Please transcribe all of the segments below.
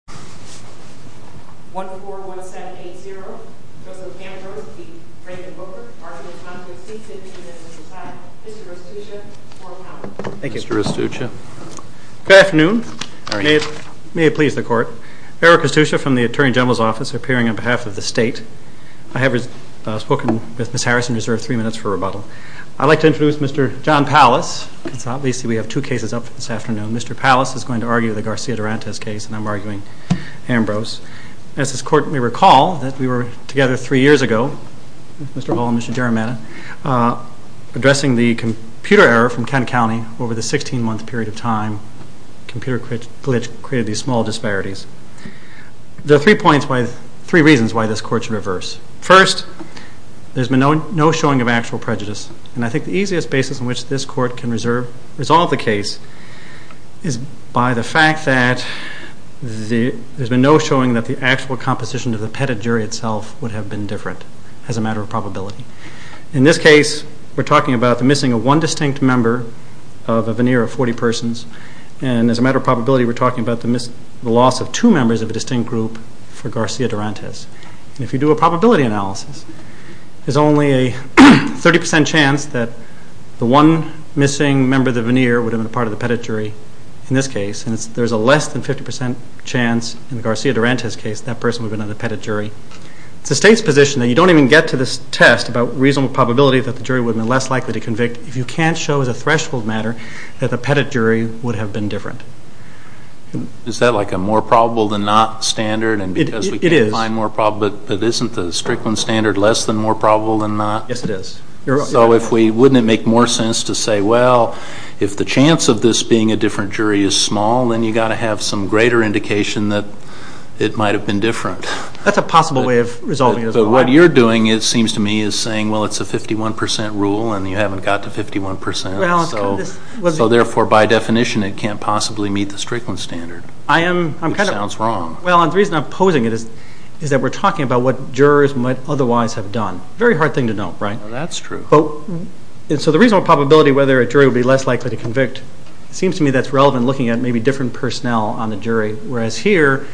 Arguing in Conflict, Seeking to Intervene in the Society, Mr. Rostuccia, 4 pounds. Thank you. Mr. Rostuccia. Good afternoon. May it please the Court. Eric Rostuccia from the Attorney General's Office, appearing on behalf of the State. I have spoken with Ms. Harrison and reserve three minutes for rebuttal. I'd like to introduce Mr. John Pallas, because obviously we have two cases up for this afternoon. Mr. Pallas is going to argue the Garcia Durantes case, and I'm arguing Ambrose. As this Court may recall, that we were together three years ago, Mr. Hall and Mr. Jarameta, addressing the computer error from Kent County over the 16-month period of time. Computer glitch created these small disparities. There are three reasons why this Court should reverse. First, there's been no showing of actual prejudice, and I think the easiest basis on which this is by the fact that there's been no showing that the actual composition of the Petit jury itself would have been different as a matter of probability. In this case, we're talking about the missing of one distinct member of a veneer of 40 persons, and as a matter of probability, we're talking about the loss of two members of a distinct group for Garcia Durantes. If you do a probability analysis, there's only a 30 percent chance that the one missing member of the veneer would have been a part of the Petit jury in this case, and there's a less than 50 percent chance in the Garcia Durantes case that that person would have been on the Petit jury. It's the State's position that you don't even get to this test about reasonable probability that the jury would have been less likely to convict if you can't show as a threshold matter that the Petit jury would have been different. Is that like a more probable than not standard, and because we can't find more probable, but isn't the Strickland standard less than more probable than not? Yes, it is. So wouldn't it make more sense to say, well, if the chance of this being a different jury is small, then you've got to have some greater indication that it might have been different. That's a possible way of resolving it as well. What you're doing, it seems to me, is saying, well, it's a 51 percent rule, and you haven't got to 51 percent, so therefore, by definition, it can't possibly meet the Strickland standard, which sounds wrong. Well, and the reason I'm posing it is that we're talking about what jurors might otherwise have done. Very hard thing to know, right? Well, that's true. So the reasonable probability whether a jury would be less likely to convict, it seems to me that's relevant looking at maybe different personnel on the jury, whereas here,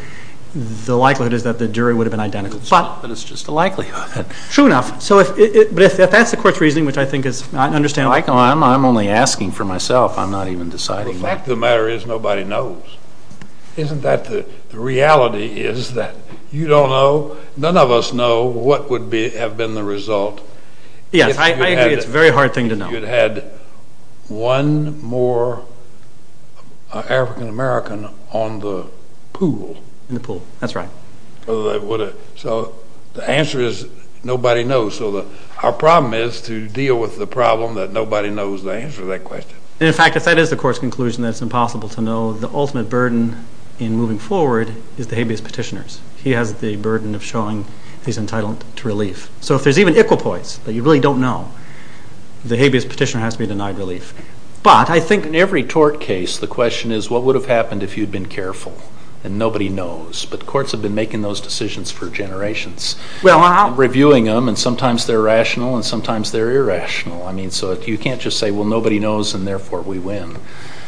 the likelihood is that the jury would have been identical, but it's just a likelihood. True enough. But if that's the court's reasoning, which I think is, I understand why I'm only asking for myself. I'm not even deciding. Well, the fact of the matter is nobody knows. Isn't that the reality is that you don't know, none of us know what would have been the result Yes, I agree. It's a very hard thing to know. You'd had one more African-American on the pool. In the pool, that's right. So the answer is nobody knows, so our problem is to deal with the problem that nobody knows the answer to that question. And in fact, if that is the court's conclusion, then it's impossible to know the ultimate burden in moving forward is the habeas petitioners. He has the burden of showing he's entitled to relief. So if there's even equipoise that you really don't know, the habeas petitioner has to be denied relief. But I think in every tort case, the question is what would have happened if you'd been careful and nobody knows? But courts have been making those decisions for generations, reviewing them, and sometimes they're rational and sometimes they're irrational. I mean, so you can't just say, well, nobody knows, and therefore we win.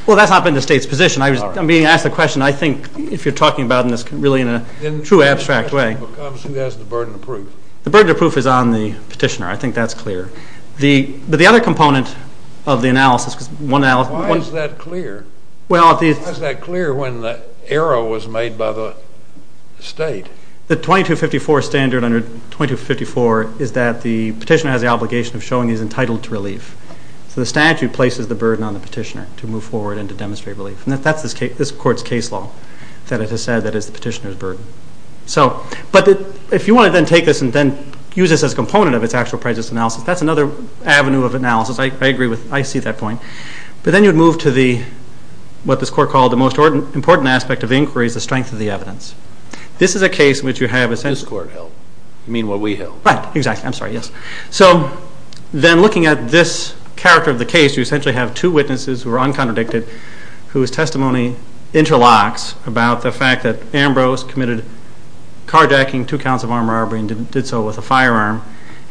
Well, that's not been the state's position. I'm being asked the question. I think if you're talking about in this really in a true abstract way. Who has the burden to prove? The burden to prove is on the petitioner. I think that's clear. But the other component of the analysis, because one analysis Why is that clear? Well, the Why is that clear when the error was made by the state? The 2254 standard under 2254 is that the petitioner has the obligation of showing he's entitled to relief. So the statute places the burden on the petitioner to move forward and to demonstrate relief. So, but if you want to then take this and then use this as a component of its actual prejudice analysis, that's another avenue of analysis. I agree with, I see that point. But then you'd move to the, what this court called the most important aspect of inquiries, the strength of the evidence. This is a case in which you have a sense This court held. You mean what we held. Right, exactly. I'm sorry. Yes. So then looking at this character of the case, you essentially have two witnesses who are uncontradicted, whose testimony interlocks about the fact that Ambrose committed carjacking, two counts of armed robbery, and did so with a firearm.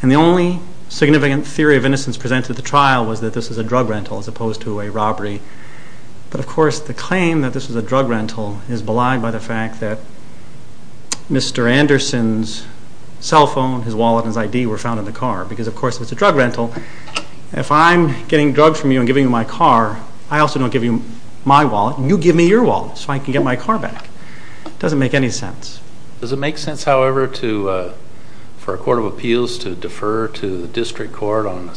And the only significant theory of innocence presented at the trial was that this was a drug rental as opposed to a robbery. But of course, the claim that this was a drug rental is belied by the fact that Mr. Anderson's cell phone, his wallet, and his ID were found in the car. Because of course, if it's a drug rental, if I'm getting drugs from you and giving you my car, I also don't give you my wallet, you give me your wallet so I can get my car back. It doesn't make any sense. Does it make sense, however, to, for a court of appeals to defer to the district court on a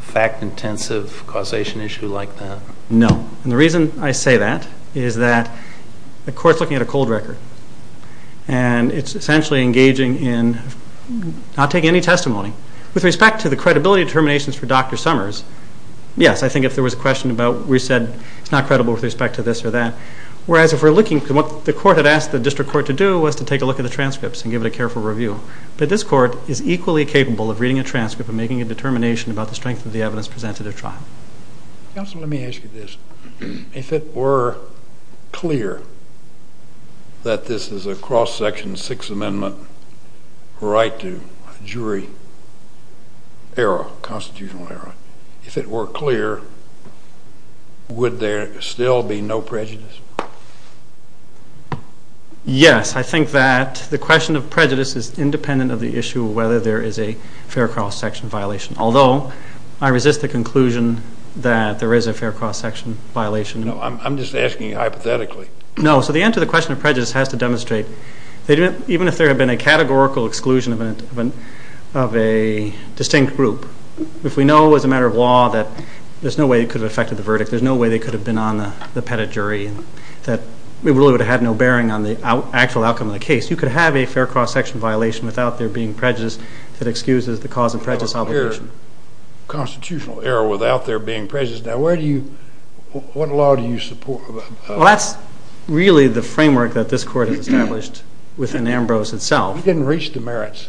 fact-intensive causation issue like that? No. And the reason I say that is that the court's looking at a cold record. And it's essentially engaging in not taking any testimony. With respect to the credibility determinations for Dr. Summers, yes, I think if there were a question about, we said, it's not credible with respect to this or that. Whereas if we're looking, what the court had asked the district court to do was to take a look at the transcripts and give it a careful review. But this court is equally capable of reading a transcript and making a determination about the strength of the evidence presented at trial. Counsel, let me ask you this. If it were clear that this is a cross-section Sixth Amendment right to jury error, constitutional error, if it were clear, would there still be no prejudice? Yes. I think that the question of prejudice is independent of the issue of whether there is a fair cross-section violation, although I resist the conclusion that there is a fair cross-section violation. No. I'm just asking hypothetically. No. So the answer to the question of prejudice has to demonstrate, even if there had been a categorical exclusion of a distinct group, if we know as a matter of law that there's no way it could have affected the verdict, there's no way they could have been on the pettit jury, that we really would have had no bearing on the actual outcome of the case. You could have a fair cross-section violation without there being prejudice that excuses the cause of prejudice obligation. Constitutional error without there being prejudice. Now where do you, what law do you support? Well, that's really the framework that this court has established within Ambrose itself. We didn't reach the merits.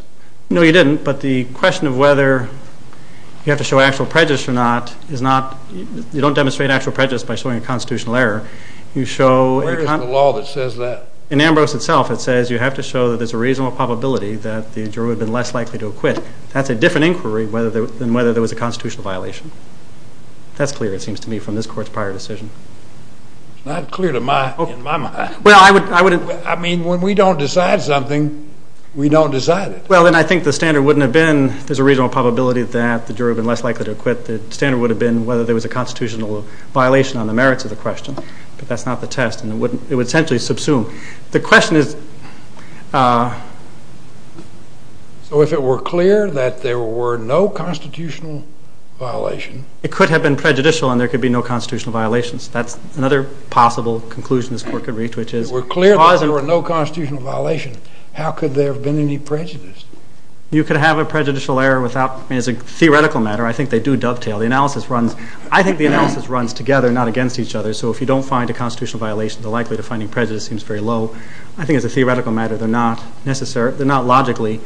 No, you didn't. But the question of whether you have to show actual prejudice or not is not, you don't demonstrate actual prejudice by showing a constitutional error. You show- Where is the law that says that? In Ambrose itself, it says you have to show that there's a reasonable probability that the jury would have been less likely to acquit. That's a different inquiry than whether there was a constitutional violation. That's clear, it seems to me, from this court's prior decision. It's not clear to my, in my mind. Well, I would- I mean, when we don't decide something, we don't decide it. Well, then I think the standard wouldn't have been there's a reasonable probability that the jury would have been less likely to acquit. The standard would have been whether there was a constitutional violation on the merits of the question. But that's not the test, and it would essentially subsume. The question is- So if it were clear that there were no constitutional violation- It could have been prejudicial, and there could be no constitutional violations. That's another possible conclusion this court could reach, which is- If it were clear that there were no constitutional violation, how could there have been any prejudice? You could have a prejudicial error without- I mean, as a theoretical matter, I think they do dovetail. The analysis runs- I think the analysis runs together, not against each other. So if you don't find a constitutional violation, the likelihood of finding prejudice seems very low. I think as a theoretical matter, they're not logically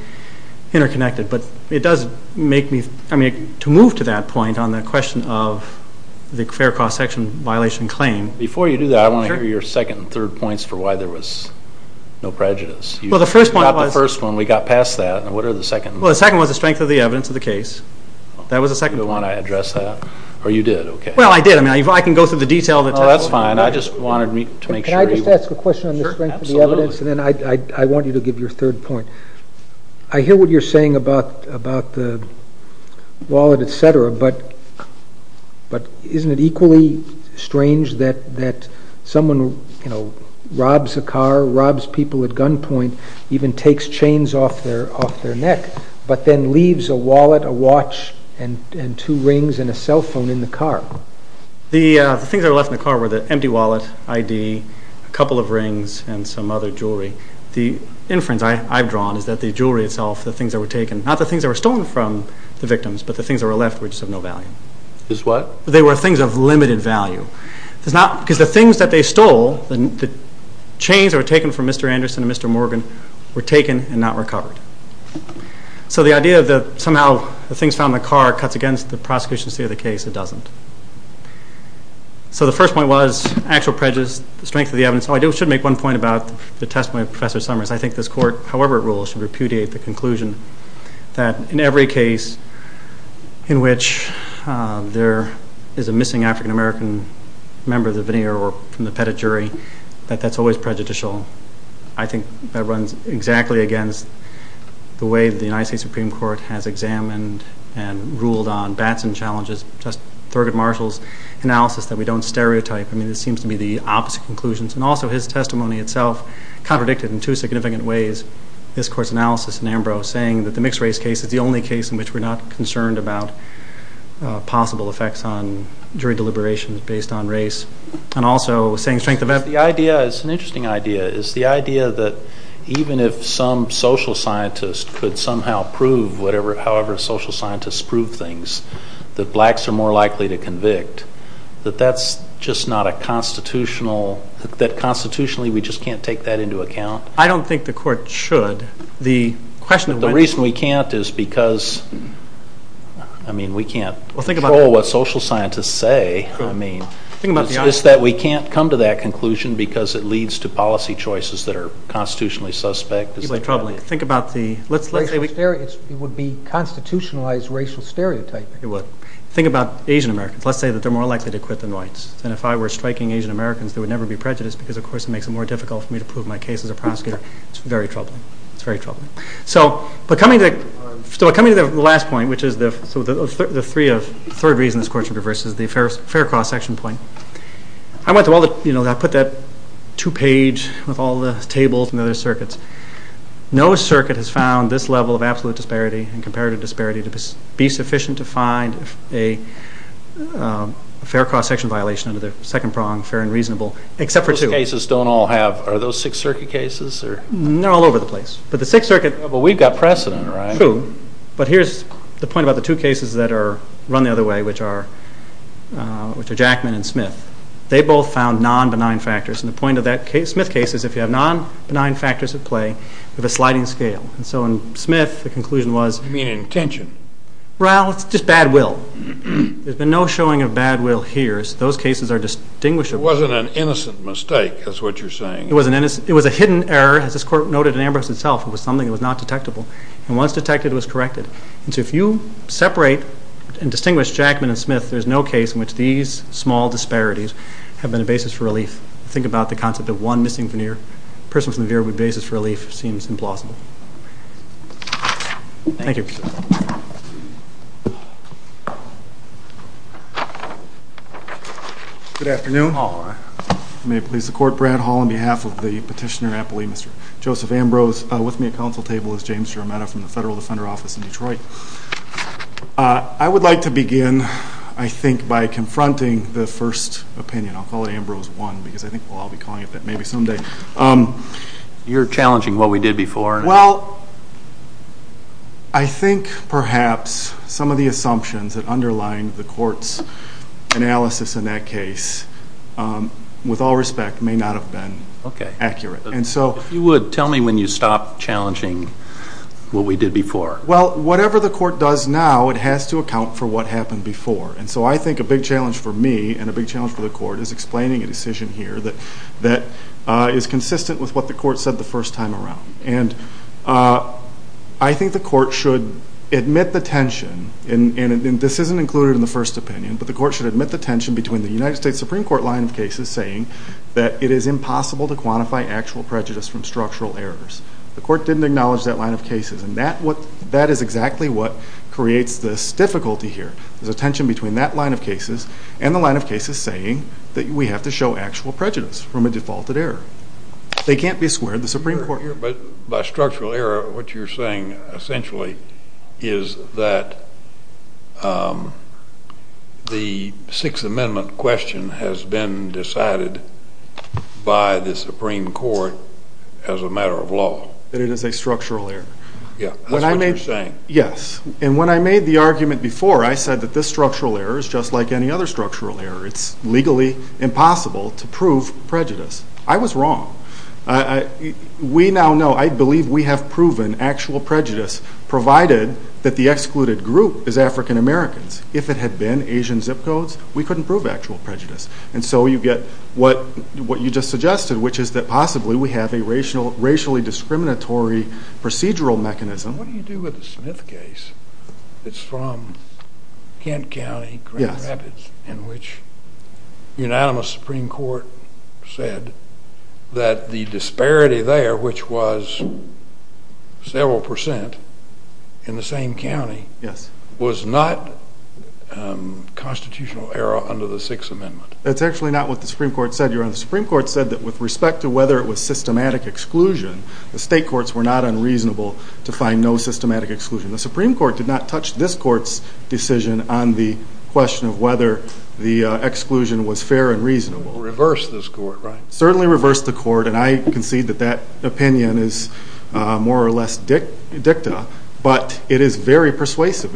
interconnected. But it does make me- I mean, to move to that point on the question of the fair cross-section violation claim- Before you do that, I want to hear your second and third points for why there was no prejudice. Well, the first point was- You got the first one. We got past that. And what are the second- Well, the second was the strength of the evidence of the case. That was the second point. Do you want to address that? Or you did? Okay. Well, I did. I mean, I can go through the detail of the testimony. Oh, that's fine. I just wanted to make sure you- Can I just ask a question on the strength of the evidence? Sure. Absolutely. And then I want you to give your third point. I hear what you're saying about the wallet, et cetera, but isn't it equally strange that someone robs a car, robs people at gunpoint, even takes chains off their neck, but then leaves a wallet, a watch, and two rings, and a cell phone in the car? The things that were left in the car were the empty wallet, ID, a couple of rings, and some other jewelry. The inference I've drawn is that the jewelry itself, the things that were taken, not the things that were stolen from the victims, but the things that were left were just of no value. Just what? They were things of limited value. Because the things that they stole, the chains that were taken from Mr. Anderson and Mr. Morgan were taken and not recovered. So the idea that somehow the things found in the car cuts against the prosecution's theory of the case. It doesn't. So the first point was actual prejudice, the strength of the evidence. I should make one point about the testimony of Professor Summers. I think this court, however it rules, should repudiate the conclusion that in every case in which there is a missing African American member of the veneer or from the pedigree, that that's always prejudicial. I think that runs exactly against the way the United States Supreme Court has examined and ruled on Batson challenges, just Thurgood Marshall's analysis that we don't stereotype. I mean, it seems to be the opposite conclusions. And also his testimony itself contradicted in two significant ways this court's analysis in Ambrose saying that the mixed race case is the only case in which we're not concerned about possible effects on jury deliberations based on race. And also saying strength of evidence. The idea, it's an interesting idea, is the idea that even if some social scientist could somehow prove, however social scientists prove things, that blacks are more likely to convict, that that's just not a constitutional, that constitutionally we just can't take that into account. I don't think the court should. The reason we can't is because, I mean, we can't control what social scientists say. I mean, it's just that we can't come to that conclusion because it leads to policy choices that are constitutionally suspect. It would be constitutionalized racial stereotyping. It would. Think about Asian-Americans. Let's say that they're more likely to quit than whites. And if I were striking Asian-Americans, there would never be prejudice because, of course, it makes it more difficult for me to prove my case as a prosecutor. It's very troubling. It's very troubling. So coming to the last point, which is the third reason this court should reverse, is the fair cross-section point. I went through all the, you know, I put that two-page with all the tables and other circuits. No circuit has found this level of absolute disparity and comparative disparity to be sufficient to find a fair cross-section violation under the second prong, fair and reasonable, except for two. Those cases don't all have, are those Sixth Circuit cases? They're all over the place. But the Sixth Circuit. But we've got precedent, right? True. But here's the point about the two cases that are run the other way, which are Jackman and Smith. They both found non-benign factors. And the point of that Smith case is if you have non-benign factors at play, you have a sliding scale. And so in Smith, the conclusion was... You mean intention? Well, it's just bad will. There's been no showing of bad will here. Those cases are distinguishable. It wasn't an innocent mistake, is what you're saying. It was a hidden error, as this court noted in Ambrose itself. It was something that was not detectable. And once detected, it was corrected. And so if you separate and distinguish Jackman and Smith, there's no case in which these small disparities have been a basis for relief. Think about the concept of one missing veneer. A person from the veer would be a basis for relief. Seems implausible. Thank you. Good afternoon. May it please the Court. Brad Hall on behalf of the Petitioner Appellee, Mr. Joseph Ambrose. With me at counsel table is James Jarametto from the Federal Defender Office in Detroit. I would like to begin, I think, by confronting the first opinion. I'll call it Ambrose 1, because I think we'll all be calling it that maybe someday. You're challenging what we did before? Well, I think perhaps some of the assumptions that underline the Court's analysis in that case, with all respect, may not have been accurate. And so... If you would, tell me when you stop challenging what we did before. Well, whatever the Court does now, it has to account for what happened before. And so I think a big challenge for me and a big challenge for the Court is explaining a decision here that is consistent with what the Court said the first time around. And I think the Court should admit the tension, and this isn't included in the first opinion, but the Court should admit the tension between the United States Supreme Court line of cases saying that it is impossible to quantify actual prejudice from structural errors. The Court didn't acknowledge that line of cases. And that is exactly what creates this difficulty here. There's a tension between that line of cases and the line of cases saying that we have to show actual prejudice from a defaulted error. They can't be squared, the Supreme Court... By structural error, what you're saying essentially is that the Sixth Amendment question has been decided by the Supreme Court as a matter of law. That it is a structural error. Yeah, that's what you're saying. Yes, and when I made the argument before, I said that this structural error is just like any other structural error. It's legally impossible to prove prejudice. I was wrong. We now know, I believe we have proven actual prejudice, provided that the excluded group is African Americans. If it had been Asian zip codes, we couldn't prove actual prejudice. And so you get what you just suggested, which is that possibly we have a racially discriminatory procedural mechanism. What do you do with the Smith case? It's from Kent County, Grand Rapids, in which the unanimous Supreme Court said that the disparity there, which was several percent in the same county, was not constitutional error under the Sixth Amendment. That's actually not what the Supreme Court said, Your Honor. The Supreme Court said that with respect to whether it was systematic exclusion, the state courts were not unreasonable to find no systematic exclusion. The Supreme Court did not touch this court's decision on the question of whether the exclusion was fair and reasonable. Reverse this court, right? Certainly reverse the court, and I concede that that opinion is more or less dicta, but it is very persuasive.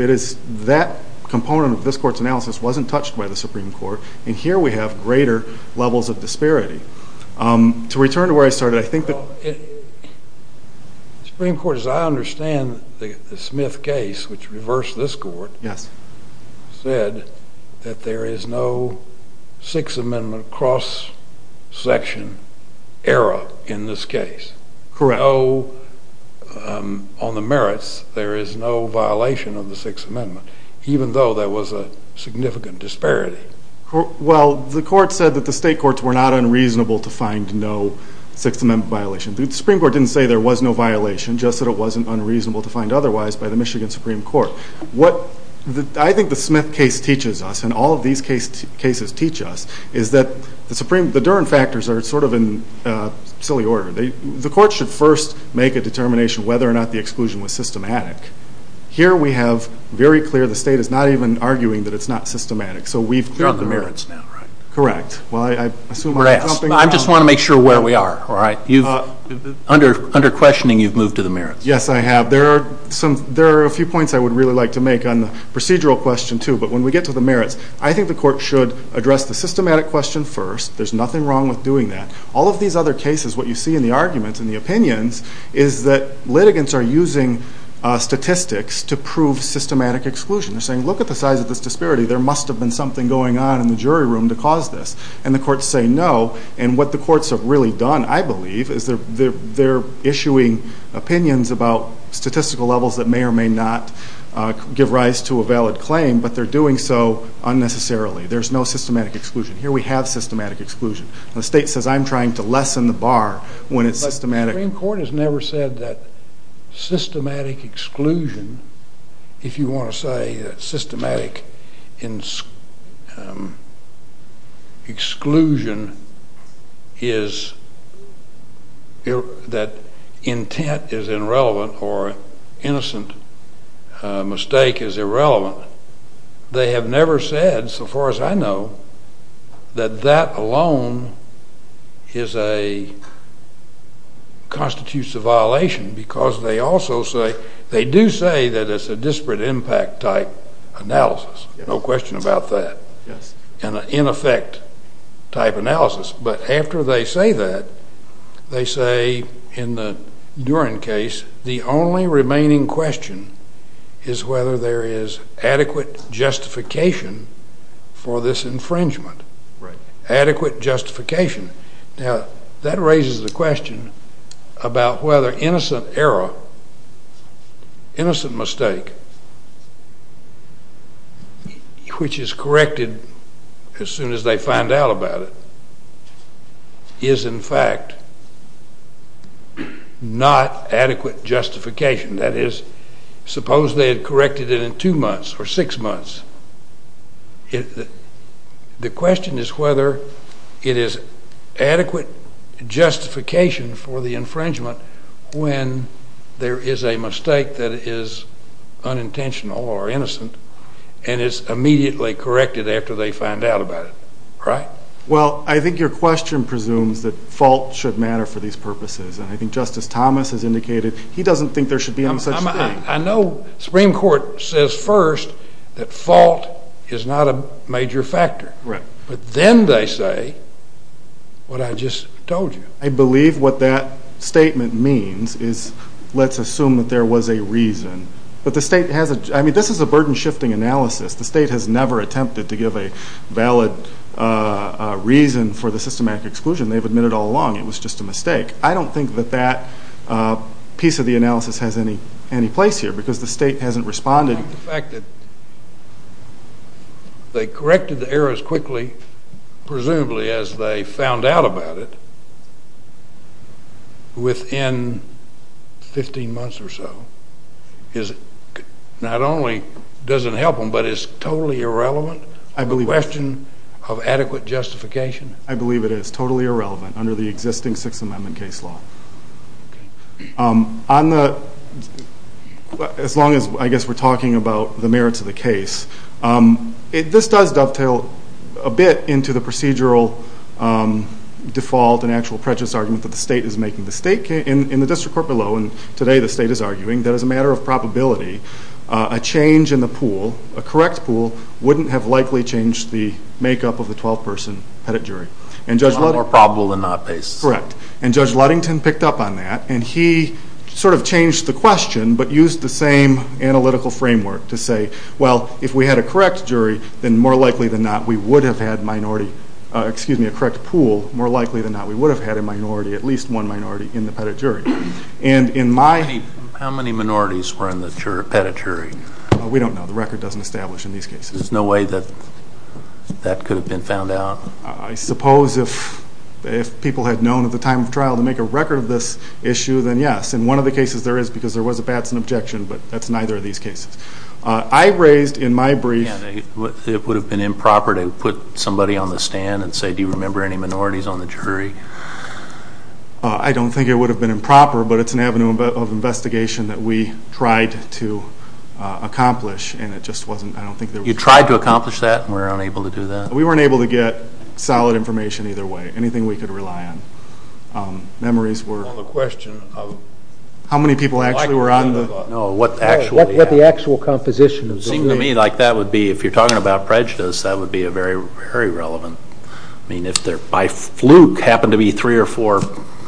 That component of this court's analysis wasn't touched by the Supreme Court, and here we have greater levels of disparity. To return to where I started, I think that the Supreme Court, as I understand the Smith case, which reversed this court, said that there is no Sixth Amendment cross-section error in this case. Correct. On the merits, there is no violation of the Sixth Amendment, even though there was a significant disparity. Well, the court said that the state courts were not unreasonable to find no Sixth Amendment violation. The Supreme Court didn't say there was no violation, just that it wasn't unreasonable to find otherwise by the Michigan Supreme Court. I think the Smith case teaches us, and all of these cases teach us, is that the Durham factors are sort of in silly order. The court should first make a determination whether or not the exclusion was systematic. Here we have very clear, the state is not even arguing that it's not systematic, so we've cleared the merits. You're on the merits now, right? Correct. Well, I assume we're jumping— I just want to make sure where we are, all right? Under questioning, you've moved to the merits. Yes, I have. There are a few points I would really like to make on the procedural question, too, but when we get to the merits, I think the court should address the systematic question first. There's nothing wrong with doing that. All of these other cases, what you see in the arguments, in the opinions, is that litigants are using statistics to prove systematic exclusion. They're saying, look at the size of this disparity. There must have been something going on in the jury room to cause this. And the courts say no. And what the courts have really done, I believe, is they're issuing opinions about statistical levels that may or may not give rise to a valid claim, but they're doing so unnecessarily. There's no systematic exclusion. Here we have systematic exclusion. The state says, I'm trying to lessen the bar when it's systematic. But the Supreme Court has never said that systematic exclusion, if you want to say that systematic exclusion is—that intent is irrelevant or innocent mistake is irrelevant. They have never said, so far as I know, that that alone is a—constitutes a violation because they also say—they do say that it's a disparate impact type analysis, no question about that, and an in effect type analysis. But after they say that, they say in the Duren case, the only remaining question is whether there is adequate justification for this infringement. Adequate justification. Now, that raises the question about whether innocent error, innocent mistake, which is corrected as soon as they find out about it, is in fact not adequate justification. That is, suppose they had corrected it in two months or six months. The question is whether it is adequate justification for the infringement when there is a mistake that is unintentional or innocent and is immediately corrected after they find out about it. Right? Well, I think your question presumes that fault should matter for these purposes. And I think Justice Thomas has indicated he doesn't think there should be such a thing. I know the Supreme Court says first that fault is not a major factor. Right. But then they say what I just told you. I believe what that statement means is let's assume that there was a reason. But the state has a—I mean, this is a burden-shifting analysis. The state has never attempted to give a valid reason for the systematic exclusion. They've admitted all along it was just a mistake. I don't think that that piece of the analysis has any place here because the state hasn't responded. The fact that they corrected the error as quickly, presumably, as they found out about it, within 15 months or so, not only doesn't help them, but it's a totally irrelevant question of adequate justification? I believe it is totally irrelevant under the existing Sixth Amendment case law. As long as, I guess, we're talking about the merits of the case, this does dovetail a bit into the procedural default and actual prejudice argument that the state is making. In the district court below, and today the state is arguing, that as a matter of probability, a change in the pool, a correct pool, wouldn't have likely changed the makeup of the 12-person pettit jury. It's a lot more probable than not, basically. Correct. And Judge Ludington picked up on that, and he sort of changed the question, but used the same analytical framework to say, well, if we had a correct jury, then more likely than not, we would have had a minority, excuse me, a correct pool, more likely than not, we would have had a minority, at least one minority, in the pettit jury. And in my- How many minorities were in the pettit jury? We don't know. The record doesn't establish in these cases. There's no way that that could have been found out? I suppose if people had known at the time of trial to make a record of this issue, then yes. In one of the cases, there is, because there was a Batson objection, but that's neither of these cases. I raised in my brief- Yeah, it would have been improper to put somebody on the stand and say, do you remember any minorities on the jury? I don't think it would have been improper, but it's an avenue of investigation that we tried to accomplish, and it just wasn't, I don't think there was- You tried to accomplish that and were unable to do that? We weren't able to get solid information either way, anything we could rely on. Memories were- On the question of- How many people actually were on the- No, what actually- No, what the actual composition of the jury- Seemed to me like that would be, if you're talking about prejudice, that would be very relevant. I mean, if there by fluke happened to be three or four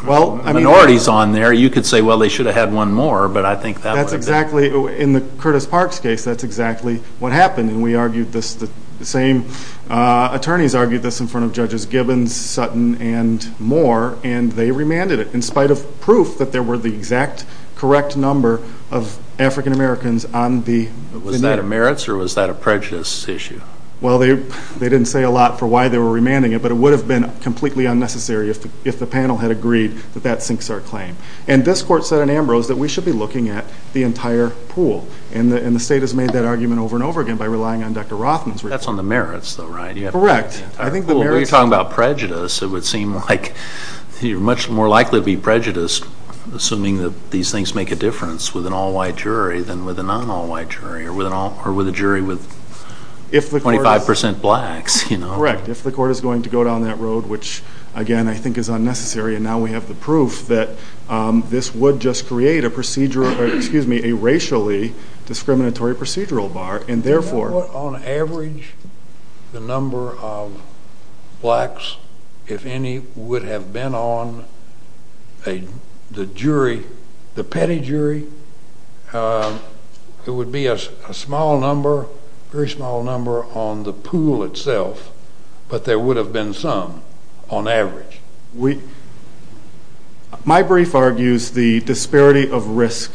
minorities on there, you could say, well, they should have had one more, but I think that would have been- In the Curtis Parks case, that's exactly what happened, and we argued this, the same attorneys argued this in front of Judges Gibbons, Sutton, and Moore, and they remanded it, in spite of proof that there were the exact correct number of African Americans on the- Was that a merits or was that a prejudice issue? Well, they didn't say a lot for why they were remanding it, but it would have been completely unnecessary if the panel had agreed that that sinks our claim. And this court said in Ambrose that we should be looking at the entire pool, and the state has made that argument over and over again by relying on Dr. Rothman's- That's on the merits, though, right? You have to- Correct. I think the merits- Well, when you're talking about prejudice, it would seem like you're much more likely to be prejudiced, assuming that these things make a difference with an all-white jury than with a non-all-white jury, or with a jury with 25% blacks, you know? Correct. If the court is going to go down that road, which, again, I think is unnecessary, and now we have the proof that this would just create a procedure, excuse me, a racially discriminatory procedural bar, and therefore- On average, the number of blacks, if any, would have been on the jury, the petty jury, it would be a small number, very small number on the pool itself, but there would have been some on average. My brief argues the disparity of risk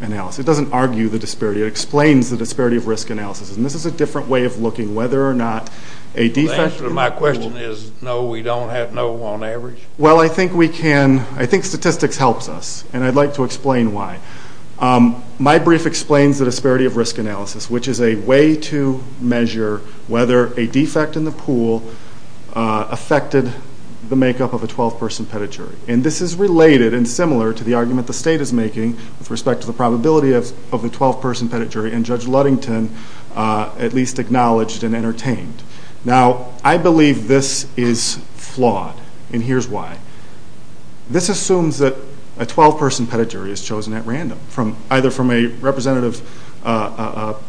analysis. It doesn't argue the disparity. It explains the disparity of risk analysis, and this is a different way of looking whether or not a defect- The answer to my question is no, we don't have no on average? Well, I think we can- I think statistics helps us, and I'd like to explain why. My brief explains the disparity of risk analysis, which is a way to measure whether a defect in the pool affected the makeup of a 12-person petty jury, and this is related and similar to the argument the state is making with respect to the probability of the 12-person petty jury, and Judge Ludington at least acknowledged and entertained. Now I believe this is flawed, and here's why. This assumes that a 12-person petty jury is chosen at random, either from a representative of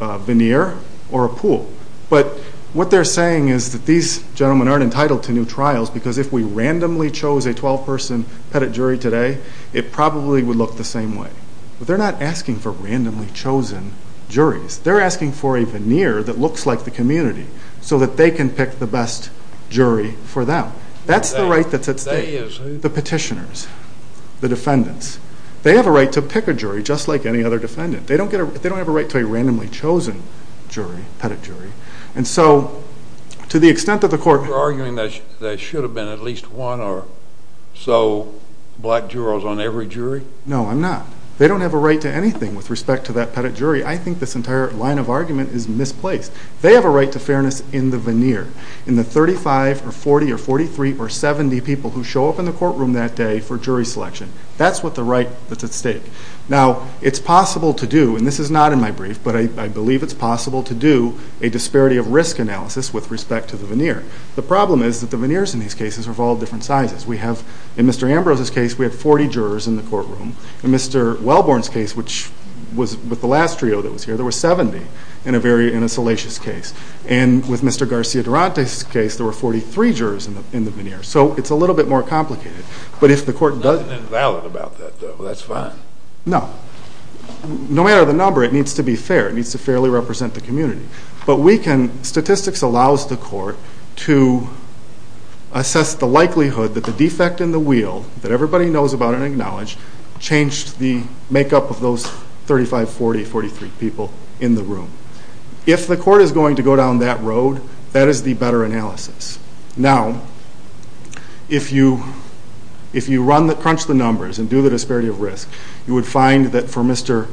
a veneer or a pool, but what they're saying is that these gentlemen aren't entitled to new trials because if we randomly chose a 12-person petty jury today, it probably would look the same way. But they're not asking for randomly chosen juries. They're asking for a veneer that looks like the community so that they can pick the best jury for them. That's the right that's at stake. The petitioners, the defendants, they have a right to pick a jury just like any other jury. They don't have a right to a randomly chosen jury, petty jury, and so to the extent that the court... You're arguing that there should have been at least one or so black jurors on every jury? No, I'm not. They don't have a right to anything with respect to that petty jury. I think this entire line of argument is misplaced. They have a right to fairness in the veneer, in the 35 or 40 or 43 or 70 people who show up in the courtroom that day for jury selection. That's what the right that's at stake. Now, it's possible to do, and this is not in my brief, but I believe it's possible to do a disparity of risk analysis with respect to the veneer. The problem is that the veneers in these cases are of all different sizes. We have, in Mr. Ambrose's case, we had 40 jurors in the courtroom. In Mr. Wellborn's case, which was with the last trio that was here, there were 70 in a very, in a salacious case. And with Mr. Garcia Durante's case, there were 43 jurors in the veneer. So it's a little bit more complicated. But if the court doesn't invalid about that, though, that's fine. No, no matter the number, it needs to be fair. It needs to fairly represent the community. But we can, statistics allows the court to assess the likelihood that the defect in the wheel, that everybody knows about and acknowledge, changed the makeup of those 35, 40, 43 people in the room. If the court is going to go down that road, that is the better analysis. Now, if you run the, crunch the numbers and do the disparity of risk, you would find that for Mr.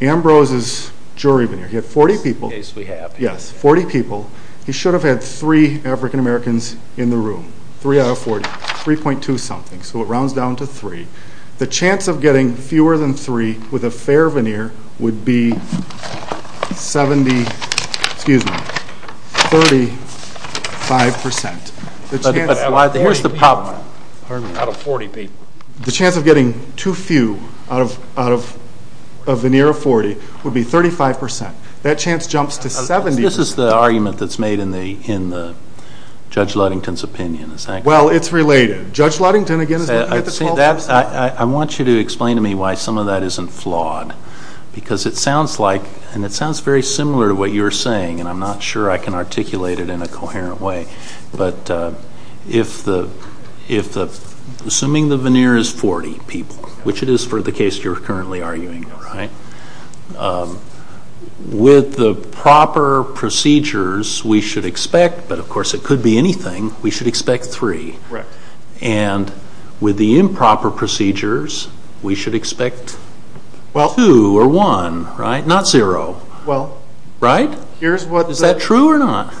Ambrose's jury veneer, he had 40 people. In this case we have. Yes, 40 people. He should have had three African Americans in the room. Three out of 40, 3.2 something. So it rounds down to three. The chance of getting fewer than three with a fair veneer would be 70, excuse me, 35%. The chance of getting too few out of a veneer of 40 would be 35%. That chance jumps to 70. This is the argument that's made in the Judge Ludington's opinion. Well, it's related. Judge Ludington, again, is looking at the 12%. I want you to explain to me why some of that isn't flawed. Because it sounds like, and it sounds very similar to what you're saying, and I'm not sure I can articulate it in a coherent way, but if the, assuming the veneer is 40 people, which it is for the case you're currently arguing, right, with the proper procedures we should expect, but of course it could be anything, we should expect three. Correct. And with the improper procedures, we should expect two or one, right? Not zero. Well. Right? Is that true or not?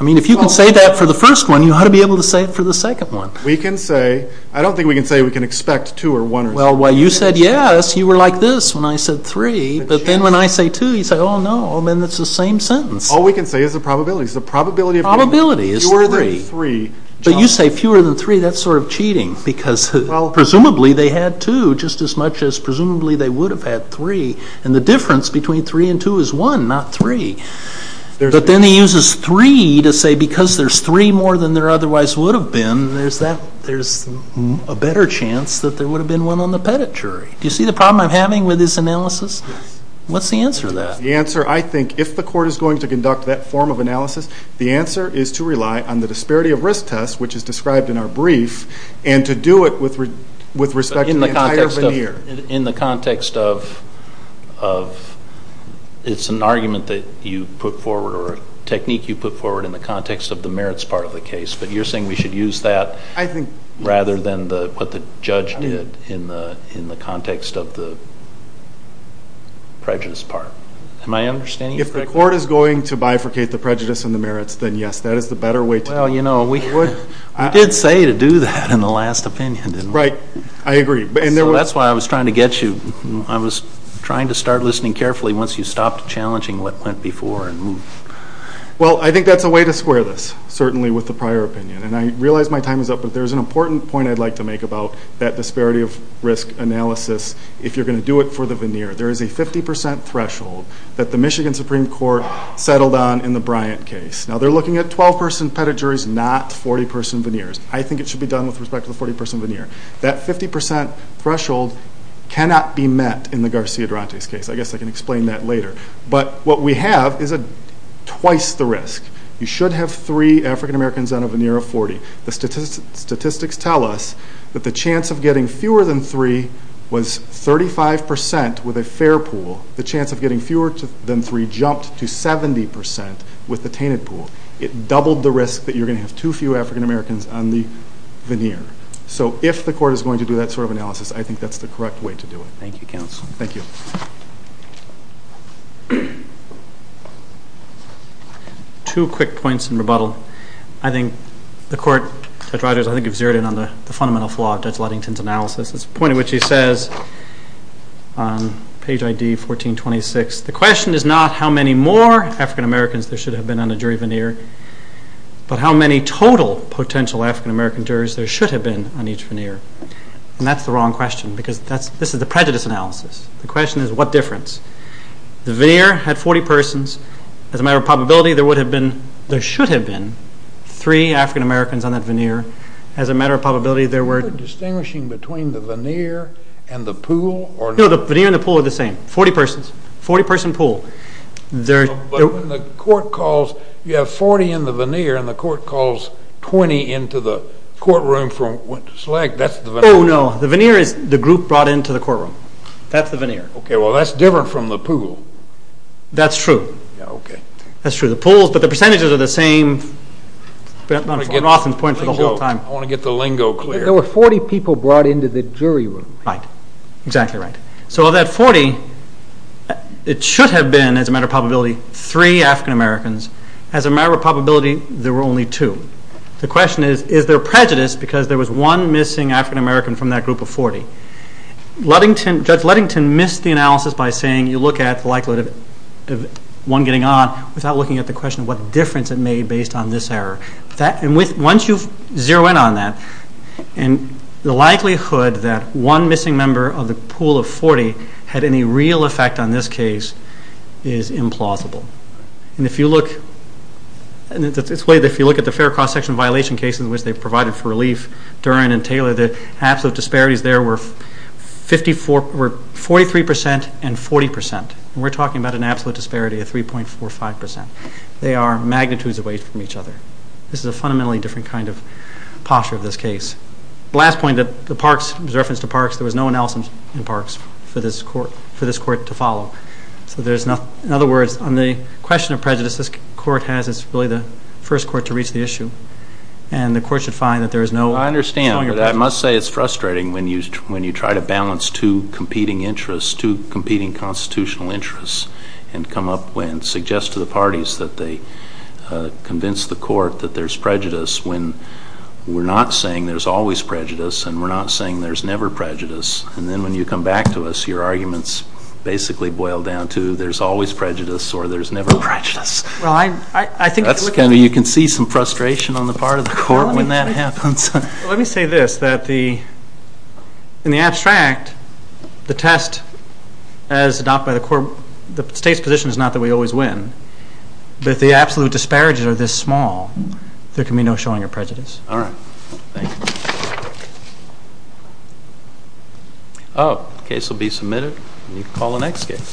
I mean, if you can say that for the first one, you ought to be able to say it for the second one. We can say, I don't think we can say we can expect two or one. Well, you said yes, you were like this when I said three, but then when I say two, you say, oh no, then it's the same sentence. All we can say is the probabilities. The probability of getting fewer than three jumps. But you say fewer than three, that's sort of cheating, because presumably they had two just as much as presumably they would have had three. And the difference between three and two is one, not three. But then he uses three to say because there's three more than there otherwise would have been, there's a better chance that there would have been one on the pedigree. Do you see the problem I'm having with this analysis? What's the answer to that? The answer, I think, if the court is going to conduct that form of analysis, the answer is to rely on the disparity of risk test, which is described in our brief, and to do it with respect to the entire veneer. In the context of, it's an argument that you put forward, or a technique you put forward in the context of the merits part of the case, but you're saying we should use that rather than what the judge did in the context of the prejudice part, am I understanding you correctly? If the court is going to bifurcate the prejudice and the merits, then yes, that is the better way to do it. Well, you know, we did say to do that in the last opinion, didn't we? Right, I agree. So that's why I was trying to get you, I was trying to start listening carefully once you stopped challenging what went before and moved. Well, I think that's a way to square this, certainly with the prior opinion. And I realize my time is up, but there's an important point I'd like to make about that disparity of risk analysis. If you're going to do it for the veneer, there is a 50% threshold that the Michigan Supreme Court settled on in the Bryant case. Now, they're looking at 12-person pedigrees, not 40-person veneers. I think it should be done with respect to the 40-person veneer. That 50% threshold cannot be met in the Garcia-Durante's case. I guess I can explain that later. But what we have is twice the risk. You should have three African Americans on a veneer of 40. The statistics tell us that the chance of getting fewer than three was 35% with a fair pool. The chance of getting fewer than three jumped to 70% with the tainted pool. It doubled the risk that you're going to have too few African Americans on the veneer. So if the court is going to do that sort of analysis, I think that's the correct way to do it. Thank you, counsel. Thank you. Two quick points in rebuttal. I think the court, Judge Rodgers, I think you've zeroed in on the fundamental flaw of Judge Ludington's analysis. It's the point at which he says on page ID 1426, the question is not how many more African Americans there should have been on a jury veneer, but how many total potential African American jurors there should have been on each veneer. And that's the wrong question, because this is the prejudice analysis. The question is what difference. The veneer had 40 persons. As a matter of probability, there should have been three African Americans on that veneer. As a matter of probability, there were. You're distinguishing between the veneer and the pool? No, the veneer and the pool are the same. 40 person pool. But when the court calls, you have 40 in the veneer, and the court calls 20 into the courtroom from SLAG, that's the veneer? Oh, no. The veneer is the group brought into the courtroom. That's the veneer. OK, well, that's different from the pool. That's true. Yeah, OK. That's true. The pools, but the percentages are the same. I'm going to get an offense point for the whole time. I want to get the lingo clear. There were 40 people brought into the jury room. Right. Exactly right. So of that 40, it should have been, as a matter of probability, three African Americans. As a matter of probability, there were only two. The question is, is there prejudice, because there was one missing African American from that group of 40? Judge Ludington missed the analysis by saying you look at the likelihood of one getting on without looking at the question of what difference it made based on this error. And once you zero in on that, the likelihood that one missing member of the pool of 40 had any real effect on this case is implausible. And if you look at the fair cross-section violation cases in which they provided for relief, Duren and Taylor, the absolute disparities there were 43% and 40%. We're talking about an absolute disparity of 3.45%. They are magnitudes away from each other. This is a fundamentally different kind of posture of this case. Last point, the parks, in reference to parks, there was no analysis in parks for this court to follow. So in other words, on the question of prejudice this court has, it's really the first court to reach the issue. And the court should find that there is no longer prejudice. I must say it's frustrating when you try to balance two competing interests, two competing constitutional interests, and come up and suggest to the parties that they convince the court that there's prejudice when we're not saying there's always prejudice, and we're not saying there's never prejudice. And then when you come back to us, your arguments basically boil down to there's always prejudice, or there's never prejudice. You can see some frustration on the part of the court when that happens. Let me say this, that in the abstract, the test as adopted by the court, the state's position is not that we always win. But if the absolute disparities are this small, there can be no showing of prejudice. All right. Thank you. Thank you. Oh, case will be submitted, and you can call the next case.